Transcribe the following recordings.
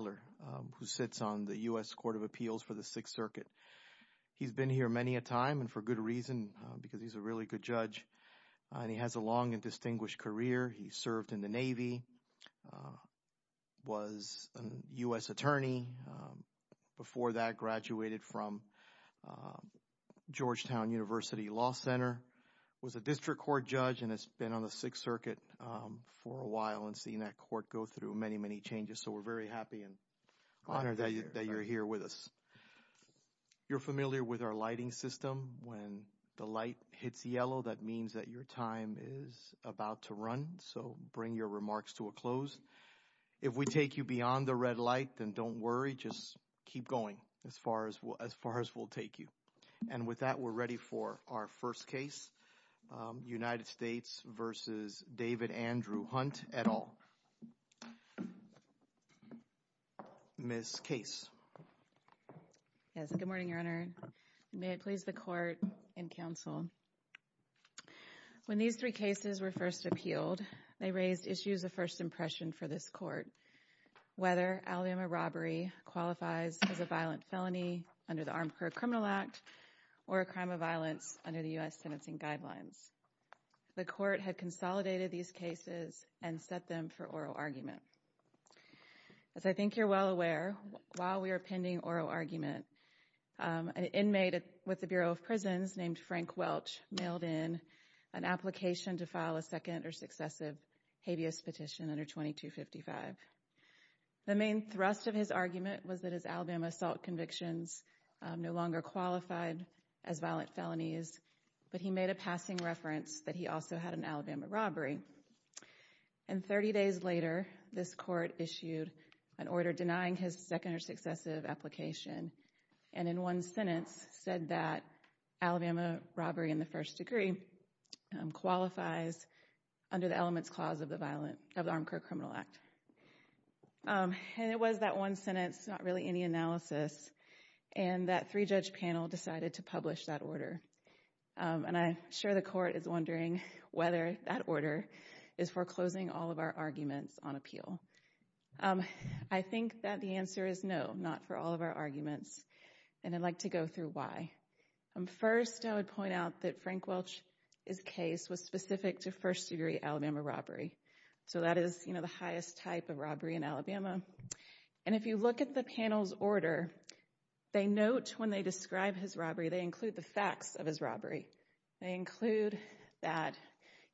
who sits on the U.S. Court of Appeals for the Sixth Circuit. He's been here many a time, and for good reason, because he's a really good judge, and he has a long and distinguished career. He served in the Navy, was a U.S. attorney, before that graduated from Georgetown University Law Center, was a district court judge, and has been on the Sixth Circuit for a while and seen that honor that you're here with us. You're familiar with our lighting system. When the light hits yellow, that means that your time is about to run, so bring your remarks to a close. If we take you beyond the red light, then don't worry, just keep going as far as we'll take you. And with that, we're ready for our first case, United States v. David Andrew Hunt et al. Ms. Case. Yes, good morning, Your Honor. May it please the court and counsel. When these three cases were first appealed, they raised issues of first impression for this court, whether Alabama robbery qualifies as a violent felony under the Armed Car Criminal Act or a crime of violence under the U.S. sentencing guidelines. The court had consolidated these cases and set them for oral argument. As I think you're well aware, while we were pending oral argument, an inmate with the Bureau of Prisons named Frank Welch mailed in an application to file a second or successive habeas petition under 2255. The main thrust of his argument was that his Alabama assault convictions no longer qualified as violent felonies, but he made a passing reference that he also had an Alabama robbery. And 30 days later, this court issued an order denying his second or successive application and in one sentence said that Alabama robbery in the first degree qualifies under the elements clause of the violent of the Armed Car Criminal Act. And it was that one sentence, not really any analysis, and that three-judge panel decided to whether that order is foreclosing all of our arguments on appeal. I think that the answer is no, not for all of our arguments, and I'd like to go through why. First, I would point out that Frank Welch's case was specific to first degree Alabama robbery. So that is, you know, the highest type of robbery in Alabama. And if you look at the panel's order, they note when they describe his robbery, they include the facts of his robbery. They include that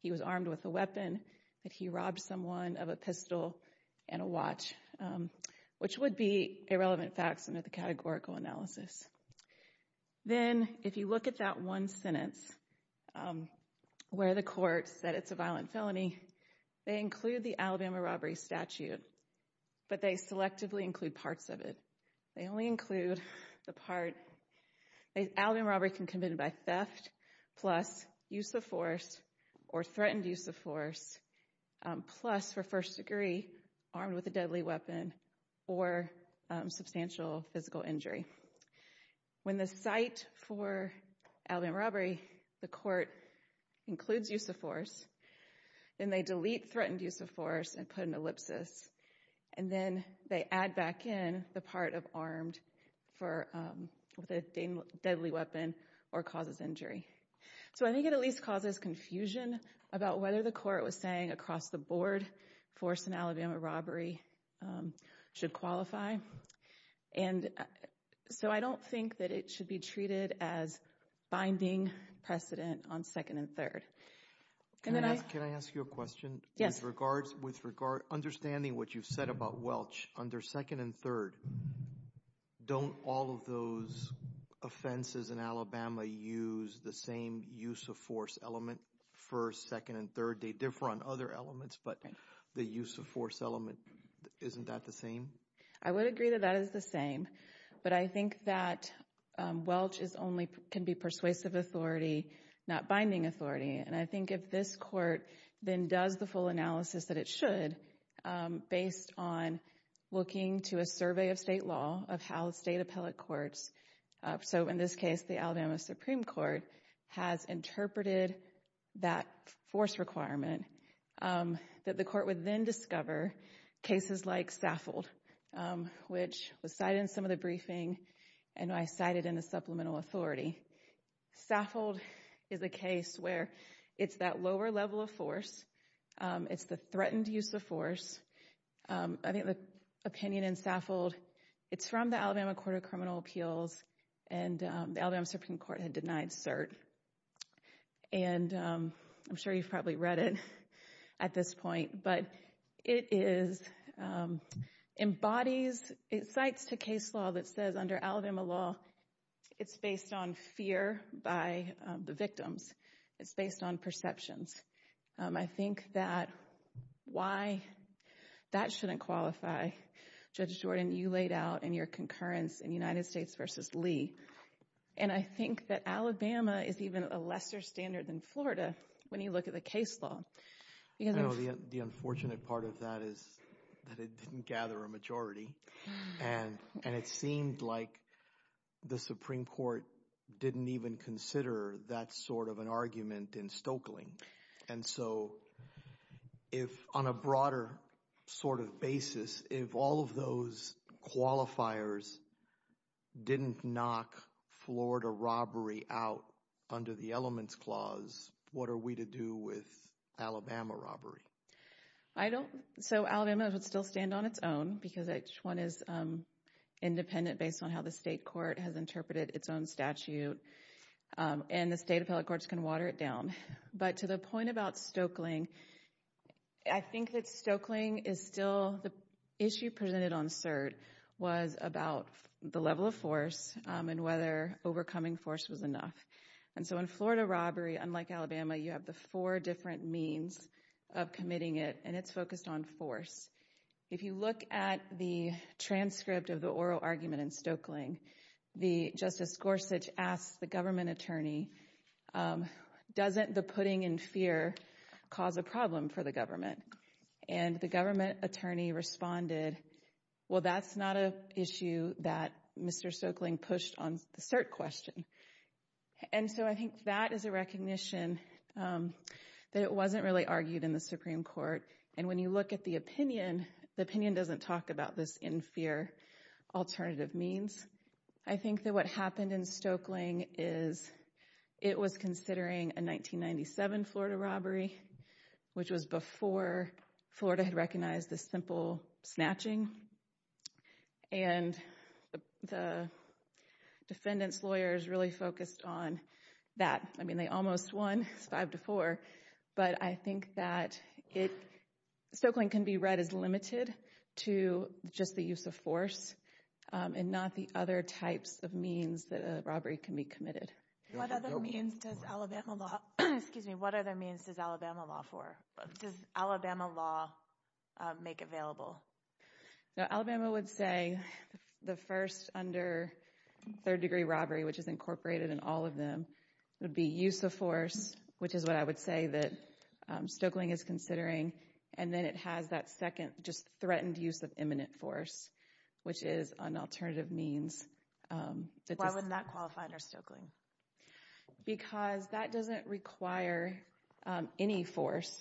he was armed with a weapon, that he robbed someone of a pistol and a watch, which would be irrelevant facts under the categorical analysis. Then, if you look at that one sentence where the court said it's a violent felony, they include the Alabama robbery statute, but they selectively include parts of it. They only include the part that Alabama robbery can be committed by theft plus use of force or threatened use of force plus for first degree armed with a deadly weapon or substantial physical injury. When the site for Alabama robbery, the court includes use of force, then they delete threatened use of force and put an ellipsis, and then they add back in the part of armed for with a deadly weapon or causes injury. So I think it at least causes confusion about whether the court was saying across the board force in Alabama robbery should qualify. And so I don't think that it should be treated as binding precedent on second and third. Can I ask you a question? Yes. With regards, understanding what you've said about Welch under second and third, don't all of those offenses in Alabama use the same use of force element for second and third? They differ on other elements, but the use of force element, isn't that the same? I would agree that that is the same, but I think that Welch is only, can be persuasive authority, not binding authority. And I it should based on looking to a survey of state law of how the state appellate courts. So in this case, the Alabama Supreme Court has interpreted that force requirement that the court would then discover cases like Saffold, which was cited in some of the briefing and I cited in the supplemental authority. Saffold is a case where it's that lower level of force it's the threatened use of force. I think the opinion in Saffold, it's from the Alabama Court of Criminal Appeals and the Alabama Supreme Court had denied cert. And I'm sure you've probably read it at this point, but it is, embodies, it cites to case law that says under Alabama law, it's based on fear by the victims. It's based on perceptions. I think that why that shouldn't qualify, Judge Jordan, you laid out in your concurrence in United States versus Lee. And I think that Alabama is even a lesser standard than Florida when you look at the case law. The unfortunate part of that is that it didn't gather a majority and it seemed like the Supreme Court didn't even consider that sort of an argument in Stokely. And so if on a broader sort of basis, if all of those qualifiers didn't knock Florida robbery out under the elements clause, what are we to do with Alabama robbery? I don't, so Alabama would still stand on its own because each one is independent based on how the state court has interpreted its own statute. And the state appellate courts can water it down. But to the point about Stokely, I think that Stokely is still, the issue presented on cert was about the level of force and whether overcoming force was enough. And so in Florida robbery, unlike Alabama, you have the four different means of committing it and it's focused on force. If you look at the transcript of the oral argument in Stokely, Justice Gorsuch asks the government attorney, doesn't the putting in fear cause a problem for the government? And the government attorney responded, well, that's not an issue that Mr. Stokely pushed on the cert question. And so I think that is a recognition that it wasn't really argued in the Supreme Court. And when you look at the opinion, the opinion doesn't talk about this in fear alternative means. I think that what happened in Stokely is it was considering a 1997 Florida robbery, which was before Florida had recognized this simple snatching. And the defendant's lawyers really focused on that. I mean, they almost won, it's five to four. But I think that it, Stokely can be read as limited to just the use of force and not the other types of means that for. Does Alabama law make available? Now, Alabama would say the first under third degree robbery, which is incorporated in all of them, would be use of force, which is what I would say that Stokeling is considering. And then it has that second, just threatened use of imminent force, which is an alternative means. Why would not qualify under Stokeling? Because that doesn't require any force.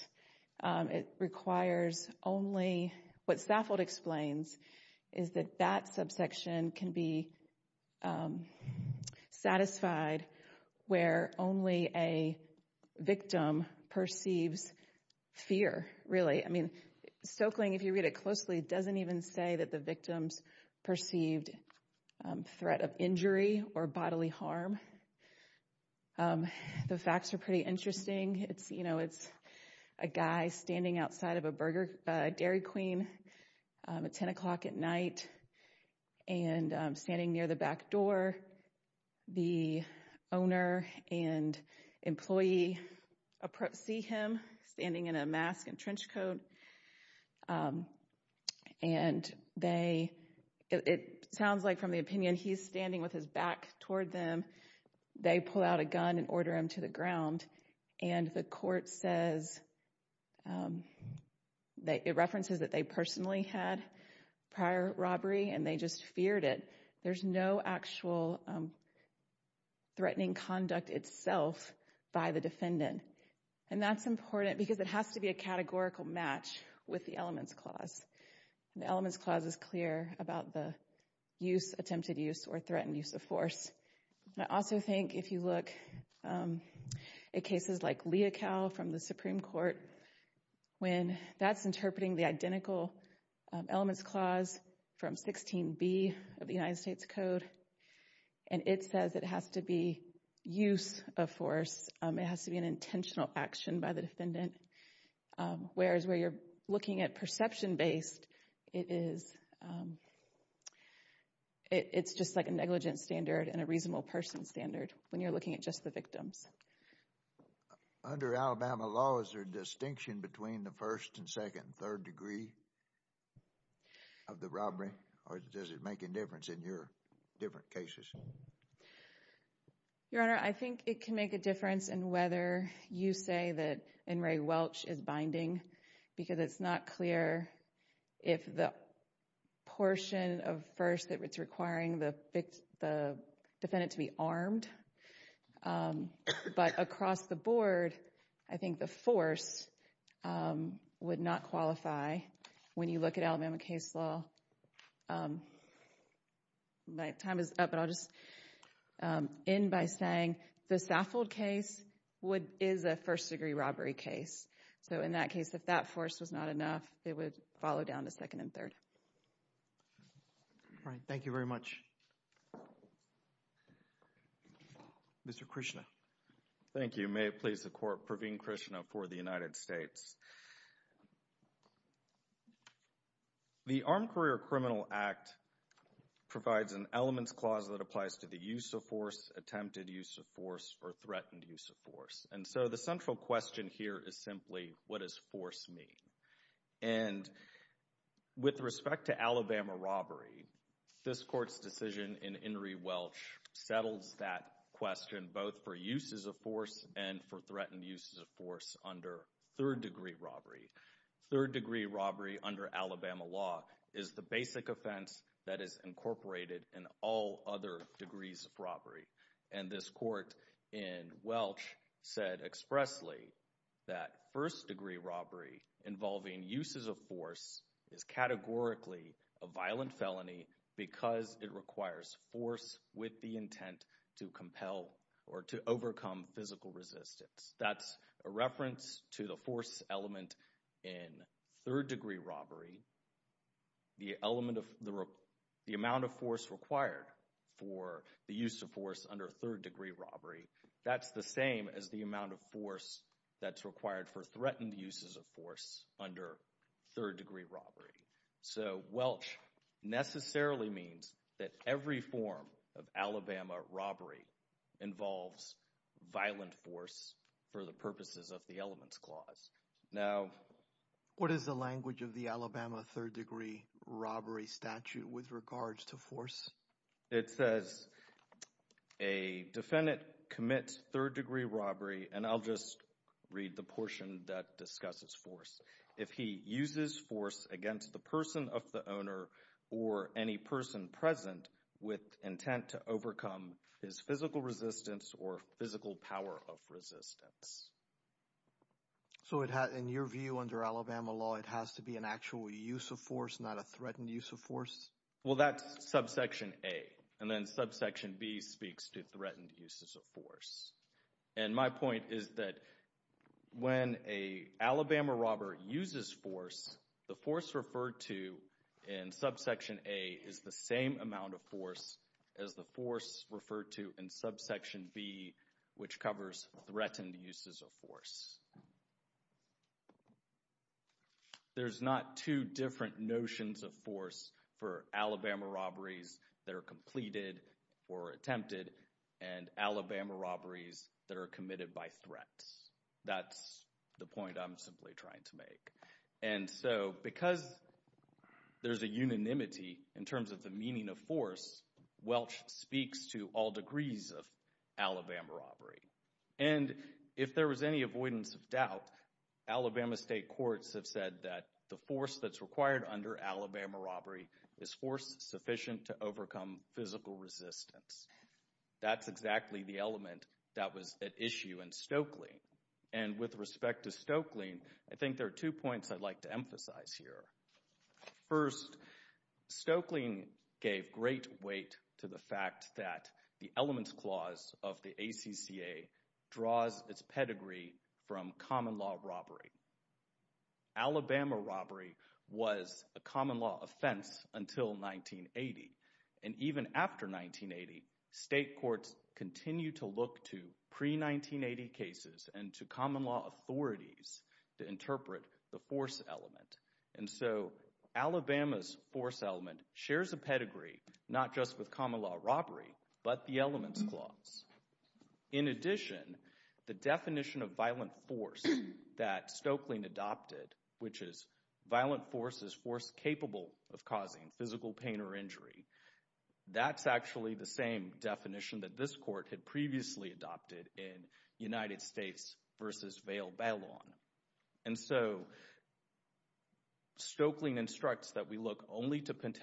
It requires only what Stafford explains is that that subsection can be satisfied where only a victim perceives fear, really. I mean, Stokeling, if you read it closely, doesn't even say that the victim's perceived threat of injury or bodily harm is. The facts are pretty interesting. It's, you know, it's a guy standing outside of a Burger Dairy Queen at 10 o'clock at night and standing near the back door. The owner and employee see him standing in a mask and trench coat. And they, it sounds like from the opinion, he's standing with his back toward them. They pull out a gun and order him to the ground. And the court says, it references that they personally had prior robbery and they just feared it. There's no actual threatening conduct itself by the defendant. And that's important because it has to be a categorical match with the elements clause. The elements clause is clear about the use, attempted use, or threatened use of force. I also think if you look at cases like Leocal from the Supreme Court, when that's interpreting the identical elements clause from 16B of the United States Code, and it says it has to be use of force, it has to be an intentional action by the defendant. Whereas where you're looking at perception-based, it is it's just like a negligent standard and a reasonable person standard when you're looking at just the victims. Under Alabama law, is there a distinction between the first and second and third degree of the robbery? Or does it make a difference in your different cases? Your Honor, I think it can make a difference in whether you say that N. Ray Welch is binding because it's not clear if the portion of first that it's requiring the defendant to be armed. But across the board, I think the force would not qualify when you look at Alabama case law. My time is up, but I'll just end by saying the Saffold case is a first degree robbery case. So in that case, if that force was not enough, it would follow down to second and third. All right, thank you very much. Mr. Krishna. Thank you. May it please the Court, Praveen Krishna for the United States. The Armed Career Criminal Act provides an elements clause that applies to the use of force, attempted use of force, or threatened use of force. And so the central question here is simply, what does force mean? And with respect to Alabama robbery, this Court's decision in N. Ray Welch settles that question both for uses of force and for threatened uses of force under third degree robbery. Third degree robbery under Alabama law is the basic offense that is incorporated in all other degrees of robbery. And this Court in Welch said expressly that first degree robbery involving uses of force is categorically a violent felony because it requires force with the intent to compel or to overcome physical resistance. That's a reference to the force element in third degree robbery. The amount of force required for the use of force under third degree robbery, that's the same as the amount of force that's required for threatened uses of force under third degree robbery. So Welch necessarily means that every form of Alabama robbery involves violent force for the purposes of the elements clause. Now, what is the language of the Alabama third degree robbery statute with regards to force? It says a defendant commits third degree robbery, and I'll just read the portion that discusses force. If he uses force against the person of the owner or any person present with intent to in your view under Alabama law, it has to be an actual use of force, not a threatened use of force? Well, that's subsection A, and then subsection B speaks to threatened uses of force. And my point is that when a Alabama robber uses force, the force referred to in subsection A is the same amount of force as the force referred to in subsection B, which covers threatened uses of force. There's not two different notions of force for Alabama robberies that are completed or attempted and Alabama robberies that are committed by threats. That's the point I'm simply trying to make. And so because there's a unanimity in terms of the meaning of force, Welch speaks to all And if there was any avoidance of doubt, Alabama state courts have said that the force that's required under Alabama robbery is force sufficient to overcome physical resistance. That's exactly the element that was at issue in Stokely. And with respect to Stokely, I think there are two points I'd like to emphasize here. First, Stokely gave great weight to the fact that the elements clause of the ACCA draws its pedigree from common law robbery. Alabama robbery was a common law offense until 1980. And even after 1980, state courts continue to look to pre-1980 cases and to common law authorities to interpret the force element. And so Alabama's force element shares a In addition, the definition of violent force that Stokely adopted, which is violent force is force capable of causing physical pain or injury, that's actually the same definition that this court had previously adopted in United States v. Vail Ballon. And so Stokely instructs that we look only to causing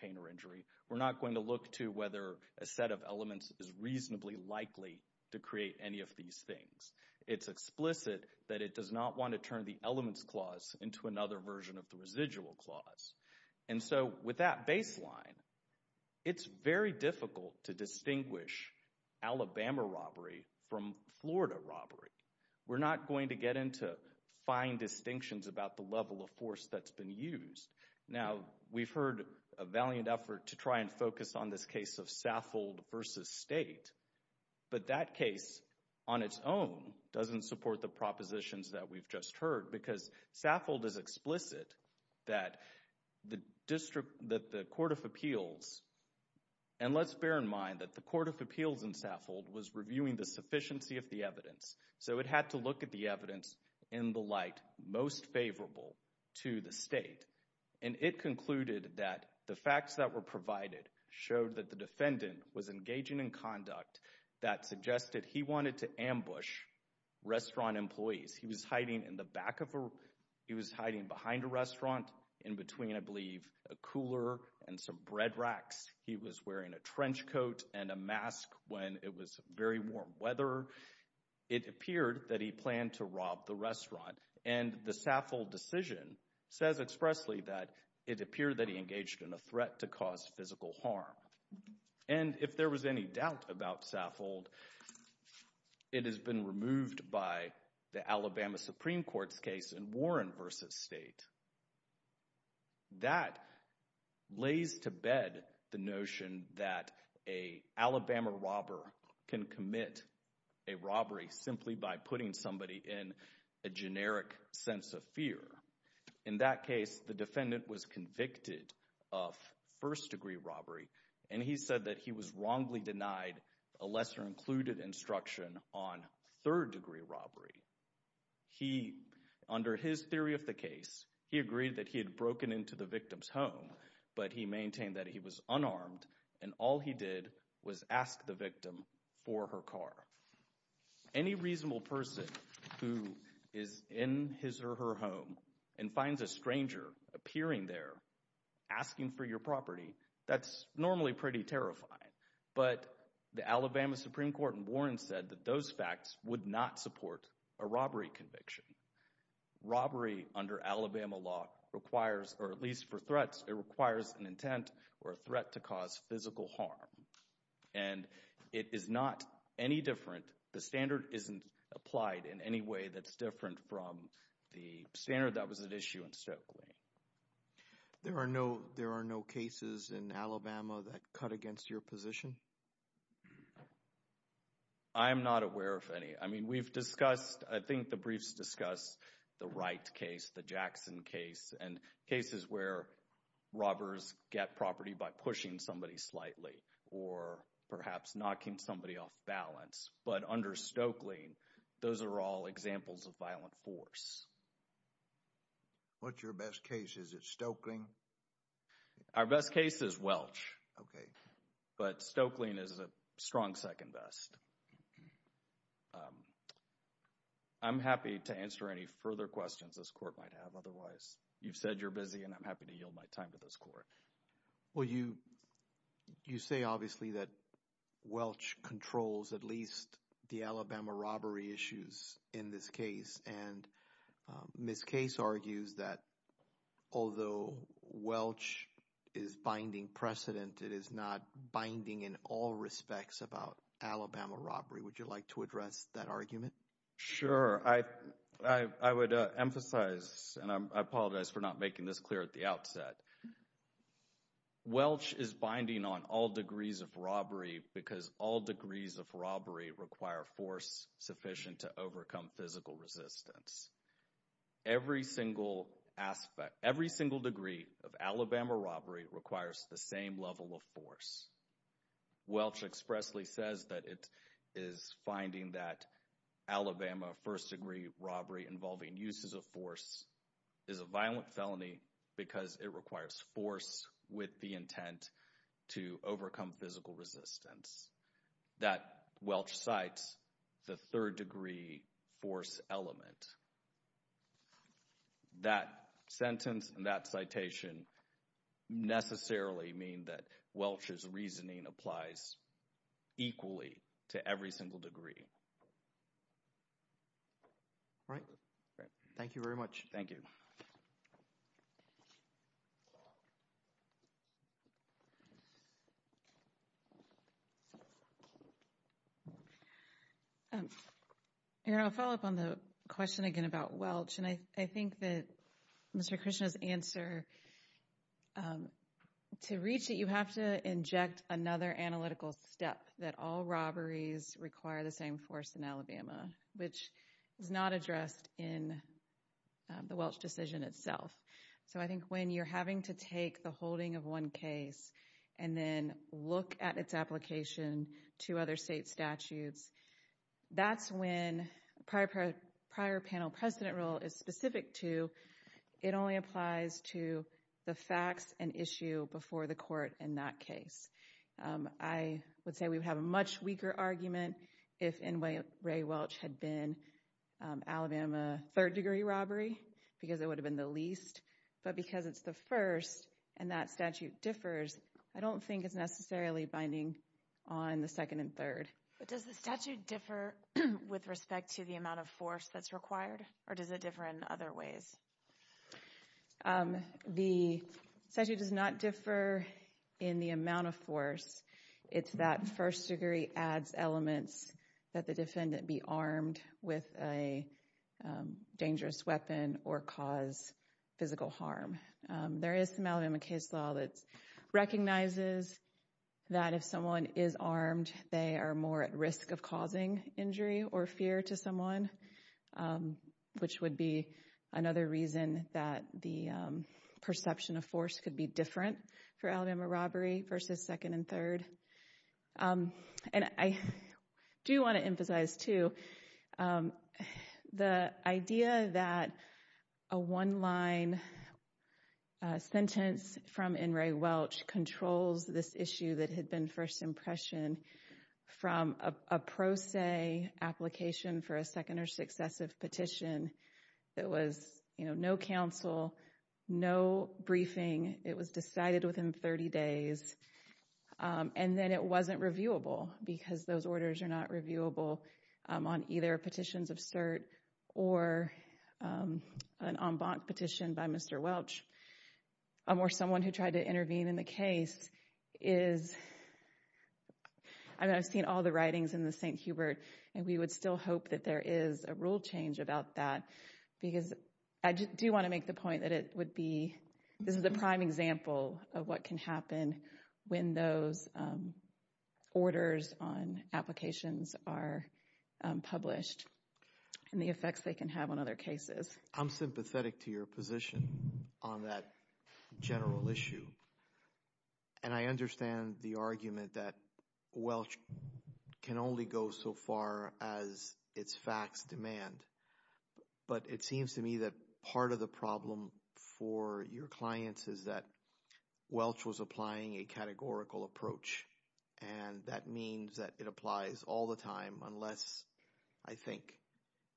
pain or injury. We're not going to look to whether a set of elements is reasonably likely to create any of these things. It's explicit that it does not want to turn the elements clause into another version of the residual clause. And so with that baseline, it's very difficult to distinguish Alabama robbery from Florida robbery. We're not going to get into fine that's been used. Now, we've heard a valiant effort to try and focus on this case of Saffold v. State, but that case on its own doesn't support the propositions that we've just heard because Saffold is explicit that the District, that the Court of Appeals, and let's bear in mind that the Court of Appeals in Saffold was reviewing the sufficiency of the evidence. So it had to look at the evidence in the light most favorable to the State. And it concluded that the facts that were provided showed that the defendant was engaging in conduct that suggested he wanted to ambush restaurant employees. He was hiding in the back of a, he was hiding behind a restaurant in between, I believe, a cooler and some bread racks. He was wearing a trench coat and a mask when it was very warm weather. It appeared that he planned to rob the restaurant. And the Saffold decision says expressly that it appeared that he engaged in a threat to cause physical harm. And if there was any doubt about Saffold, it has been removed by the Alabama Supreme Court's in Warren versus State. That lays to bed the notion that an Alabama robber can commit a robbery simply by putting somebody in a generic sense of fear. In that case, the defendant was convicted of first-degree robbery, and he said that he was wrongly denied a lesser-included instruction on third-degree robbery. He, under his theory of the case, he agreed that he had broken into the victim's home, but he maintained that he was unarmed, and all he did was ask the victim for her car. Any reasonable person who is in his or her home and finds a stranger appearing there asking for your property, that's normally pretty terrifying. But the Alabama Supreme Court in Warren said that those facts would not support a robbery conviction. Robbery under Alabama law requires, or at least for threats, it requires an intent or a threat to cause physical harm. And it is not any different, the standard isn't applied in any way that's different from the standard that was at issue in Stokely. There are no, there are no cases in Alabama that cut against your position? I'm not aware of any. I mean, we've discussed, I think the briefs discussed the Wright case, the Jackson case, and cases where robbers get property by pushing somebody slightly or perhaps knocking somebody off balance. But under Stokely, those are all examples of violent force. What's your best case? Is it Stokely? Our best case is Welch. Okay. But Stokely is a strong second best. I'm happy to answer any further questions this court might have. Otherwise, you've said you're busy and I'm happy to yield my time to this court. Well, you say obviously that Welch controls at least the Alabama robbery issues in this case. And Ms. Case argues that although Welch is binding precedent, it is not binding in all respects about Alabama robbery. Would you like to address that argument? Sure. I would emphasize, and I apologize for not making this clear at the outset, Welch is binding on all degrees of robbery because all degrees of robbery require force sufficient to overcome physical resistance. Every single aspect, every single degree of Alabama robbery requires the same level of force. Welch expressly says that it is finding that Alabama first-degree robbery involving uses of force is a violent felony because it requires force with the intent to overcome physical resistance. That Welch cites the third-degree force element. That sentence and that citation necessarily mean that Welch's reasoning applies equally to every single degree. All right. Thank you very much. Thank you. And I'll follow up on the question again about Welch, and I think that Mr. Krishna's answer to reach it, you have to inject another analytical step that all robberies require the same force in the Welch decision itself. So I think when you're having to take the holding of one case and then look at its application to other state statutes, that's when prior panel precedent rule is specific to, it only applies to the facts and issue before the court in that case. I would say we would have a much weaker argument if N. Ray Welch had been Alabama third-degree robbery because it would have been the least, but because it's the first and that statute differs, I don't think it's necessarily binding on the second and third. But does the statute differ with respect to the amount of force that's required, or does it differ in other ways? The statute does not differ in the amount of force. It's that first-degree adds elements that the defendant be armed with a dangerous weapon or cause physical harm. There is some Alabama case law that recognizes that if someone is armed, they are more at risk of causing injury or fear to someone, which would be another reason that the perception of force could be different for Alabama robbery versus second and third. And I do want to emphasize, too, the idea that a one-line sentence from N. Ray Welch controls this issue that had been first impression from a pro se application for a second or successive petition that was, you know, no counsel, no briefing. It was decided within 30 days, and then it wasn't reviewable because those orders are not reviewable on either petitions of cert or an en banc petition by Mr. Welch or someone who tried to intervene in the case is, I mean, I've seen all the writings in the St. Hubert, and we would still hope that there is a rule change about that because I do want to make the point that it would be, this is a prime example of what can happen when those orders on applications are published and the effects they can have on other cases. I'm sympathetic to your position on that general issue, and I understand the argument that Welch can only go so far as its facts demand, but it seems to me that part of the problem for your clients is that Welch was applying a categorical approach, and that means that it applies all the time unless, I think,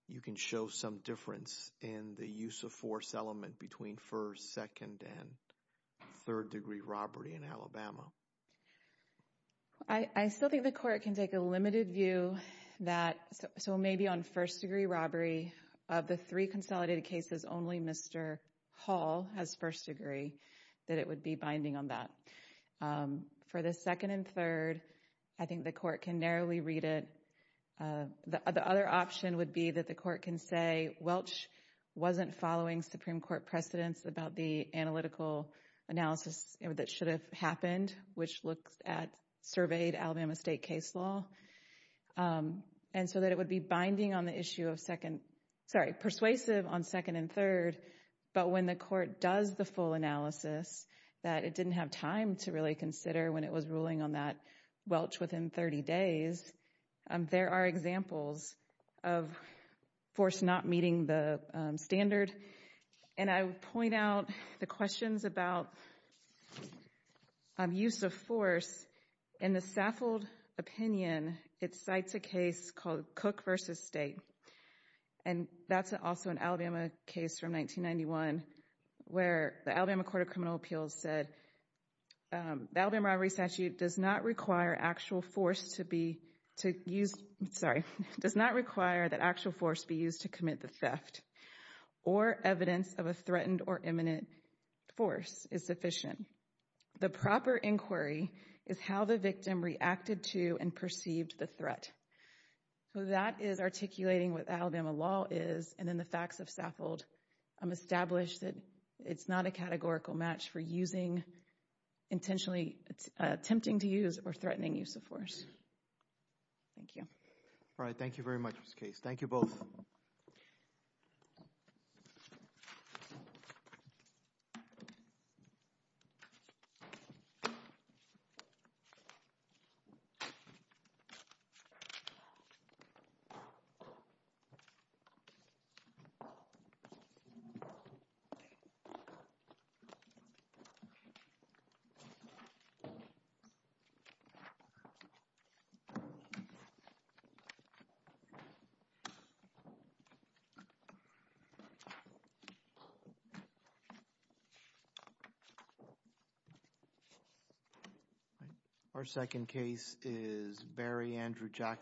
you can show some difference in the use of force element between first, second, and third degree robbery in Alabama. I still think the court can take a limited view that, so maybe on first degree robbery of the three consolidated cases, only Mr. Hall has first degree that it would be binding on that. For the second and third, I think the court can narrowly read it. The other option would be that the court can say Welch wasn't following Supreme Court precedents about the analytical analysis that should have happened, which looked at surveyed Alabama state case law, and so that it would be binding on the issue of second, sorry, persuasive on second and third, but when the court does the full analysis that it didn't have time to really consider when it was ruling on that Welch within 30 days, there are examples of force not meeting the standard, and I would point out the questions about use of force. In the Saffold opinion, it cites a case called Cook v. State, and that's also an Alabama case from 1991 where the Alabama Court of Criminal does not require actual force to be to use, sorry, does not require that actual force be used to commit the theft or evidence of a threatened or imminent force is sufficient. The proper inquiry is how the victim reacted to and perceived the threat. So that is articulating what Alabama law is, and in the facts of Saffold, I'm established that it's not a categorical match for using intentionally, attempting to use or threatening use of force. Thank you. All right, thank you very much, Ms. Case. Thank you both. Thank you. Our second case is Barry Andrew Jackson.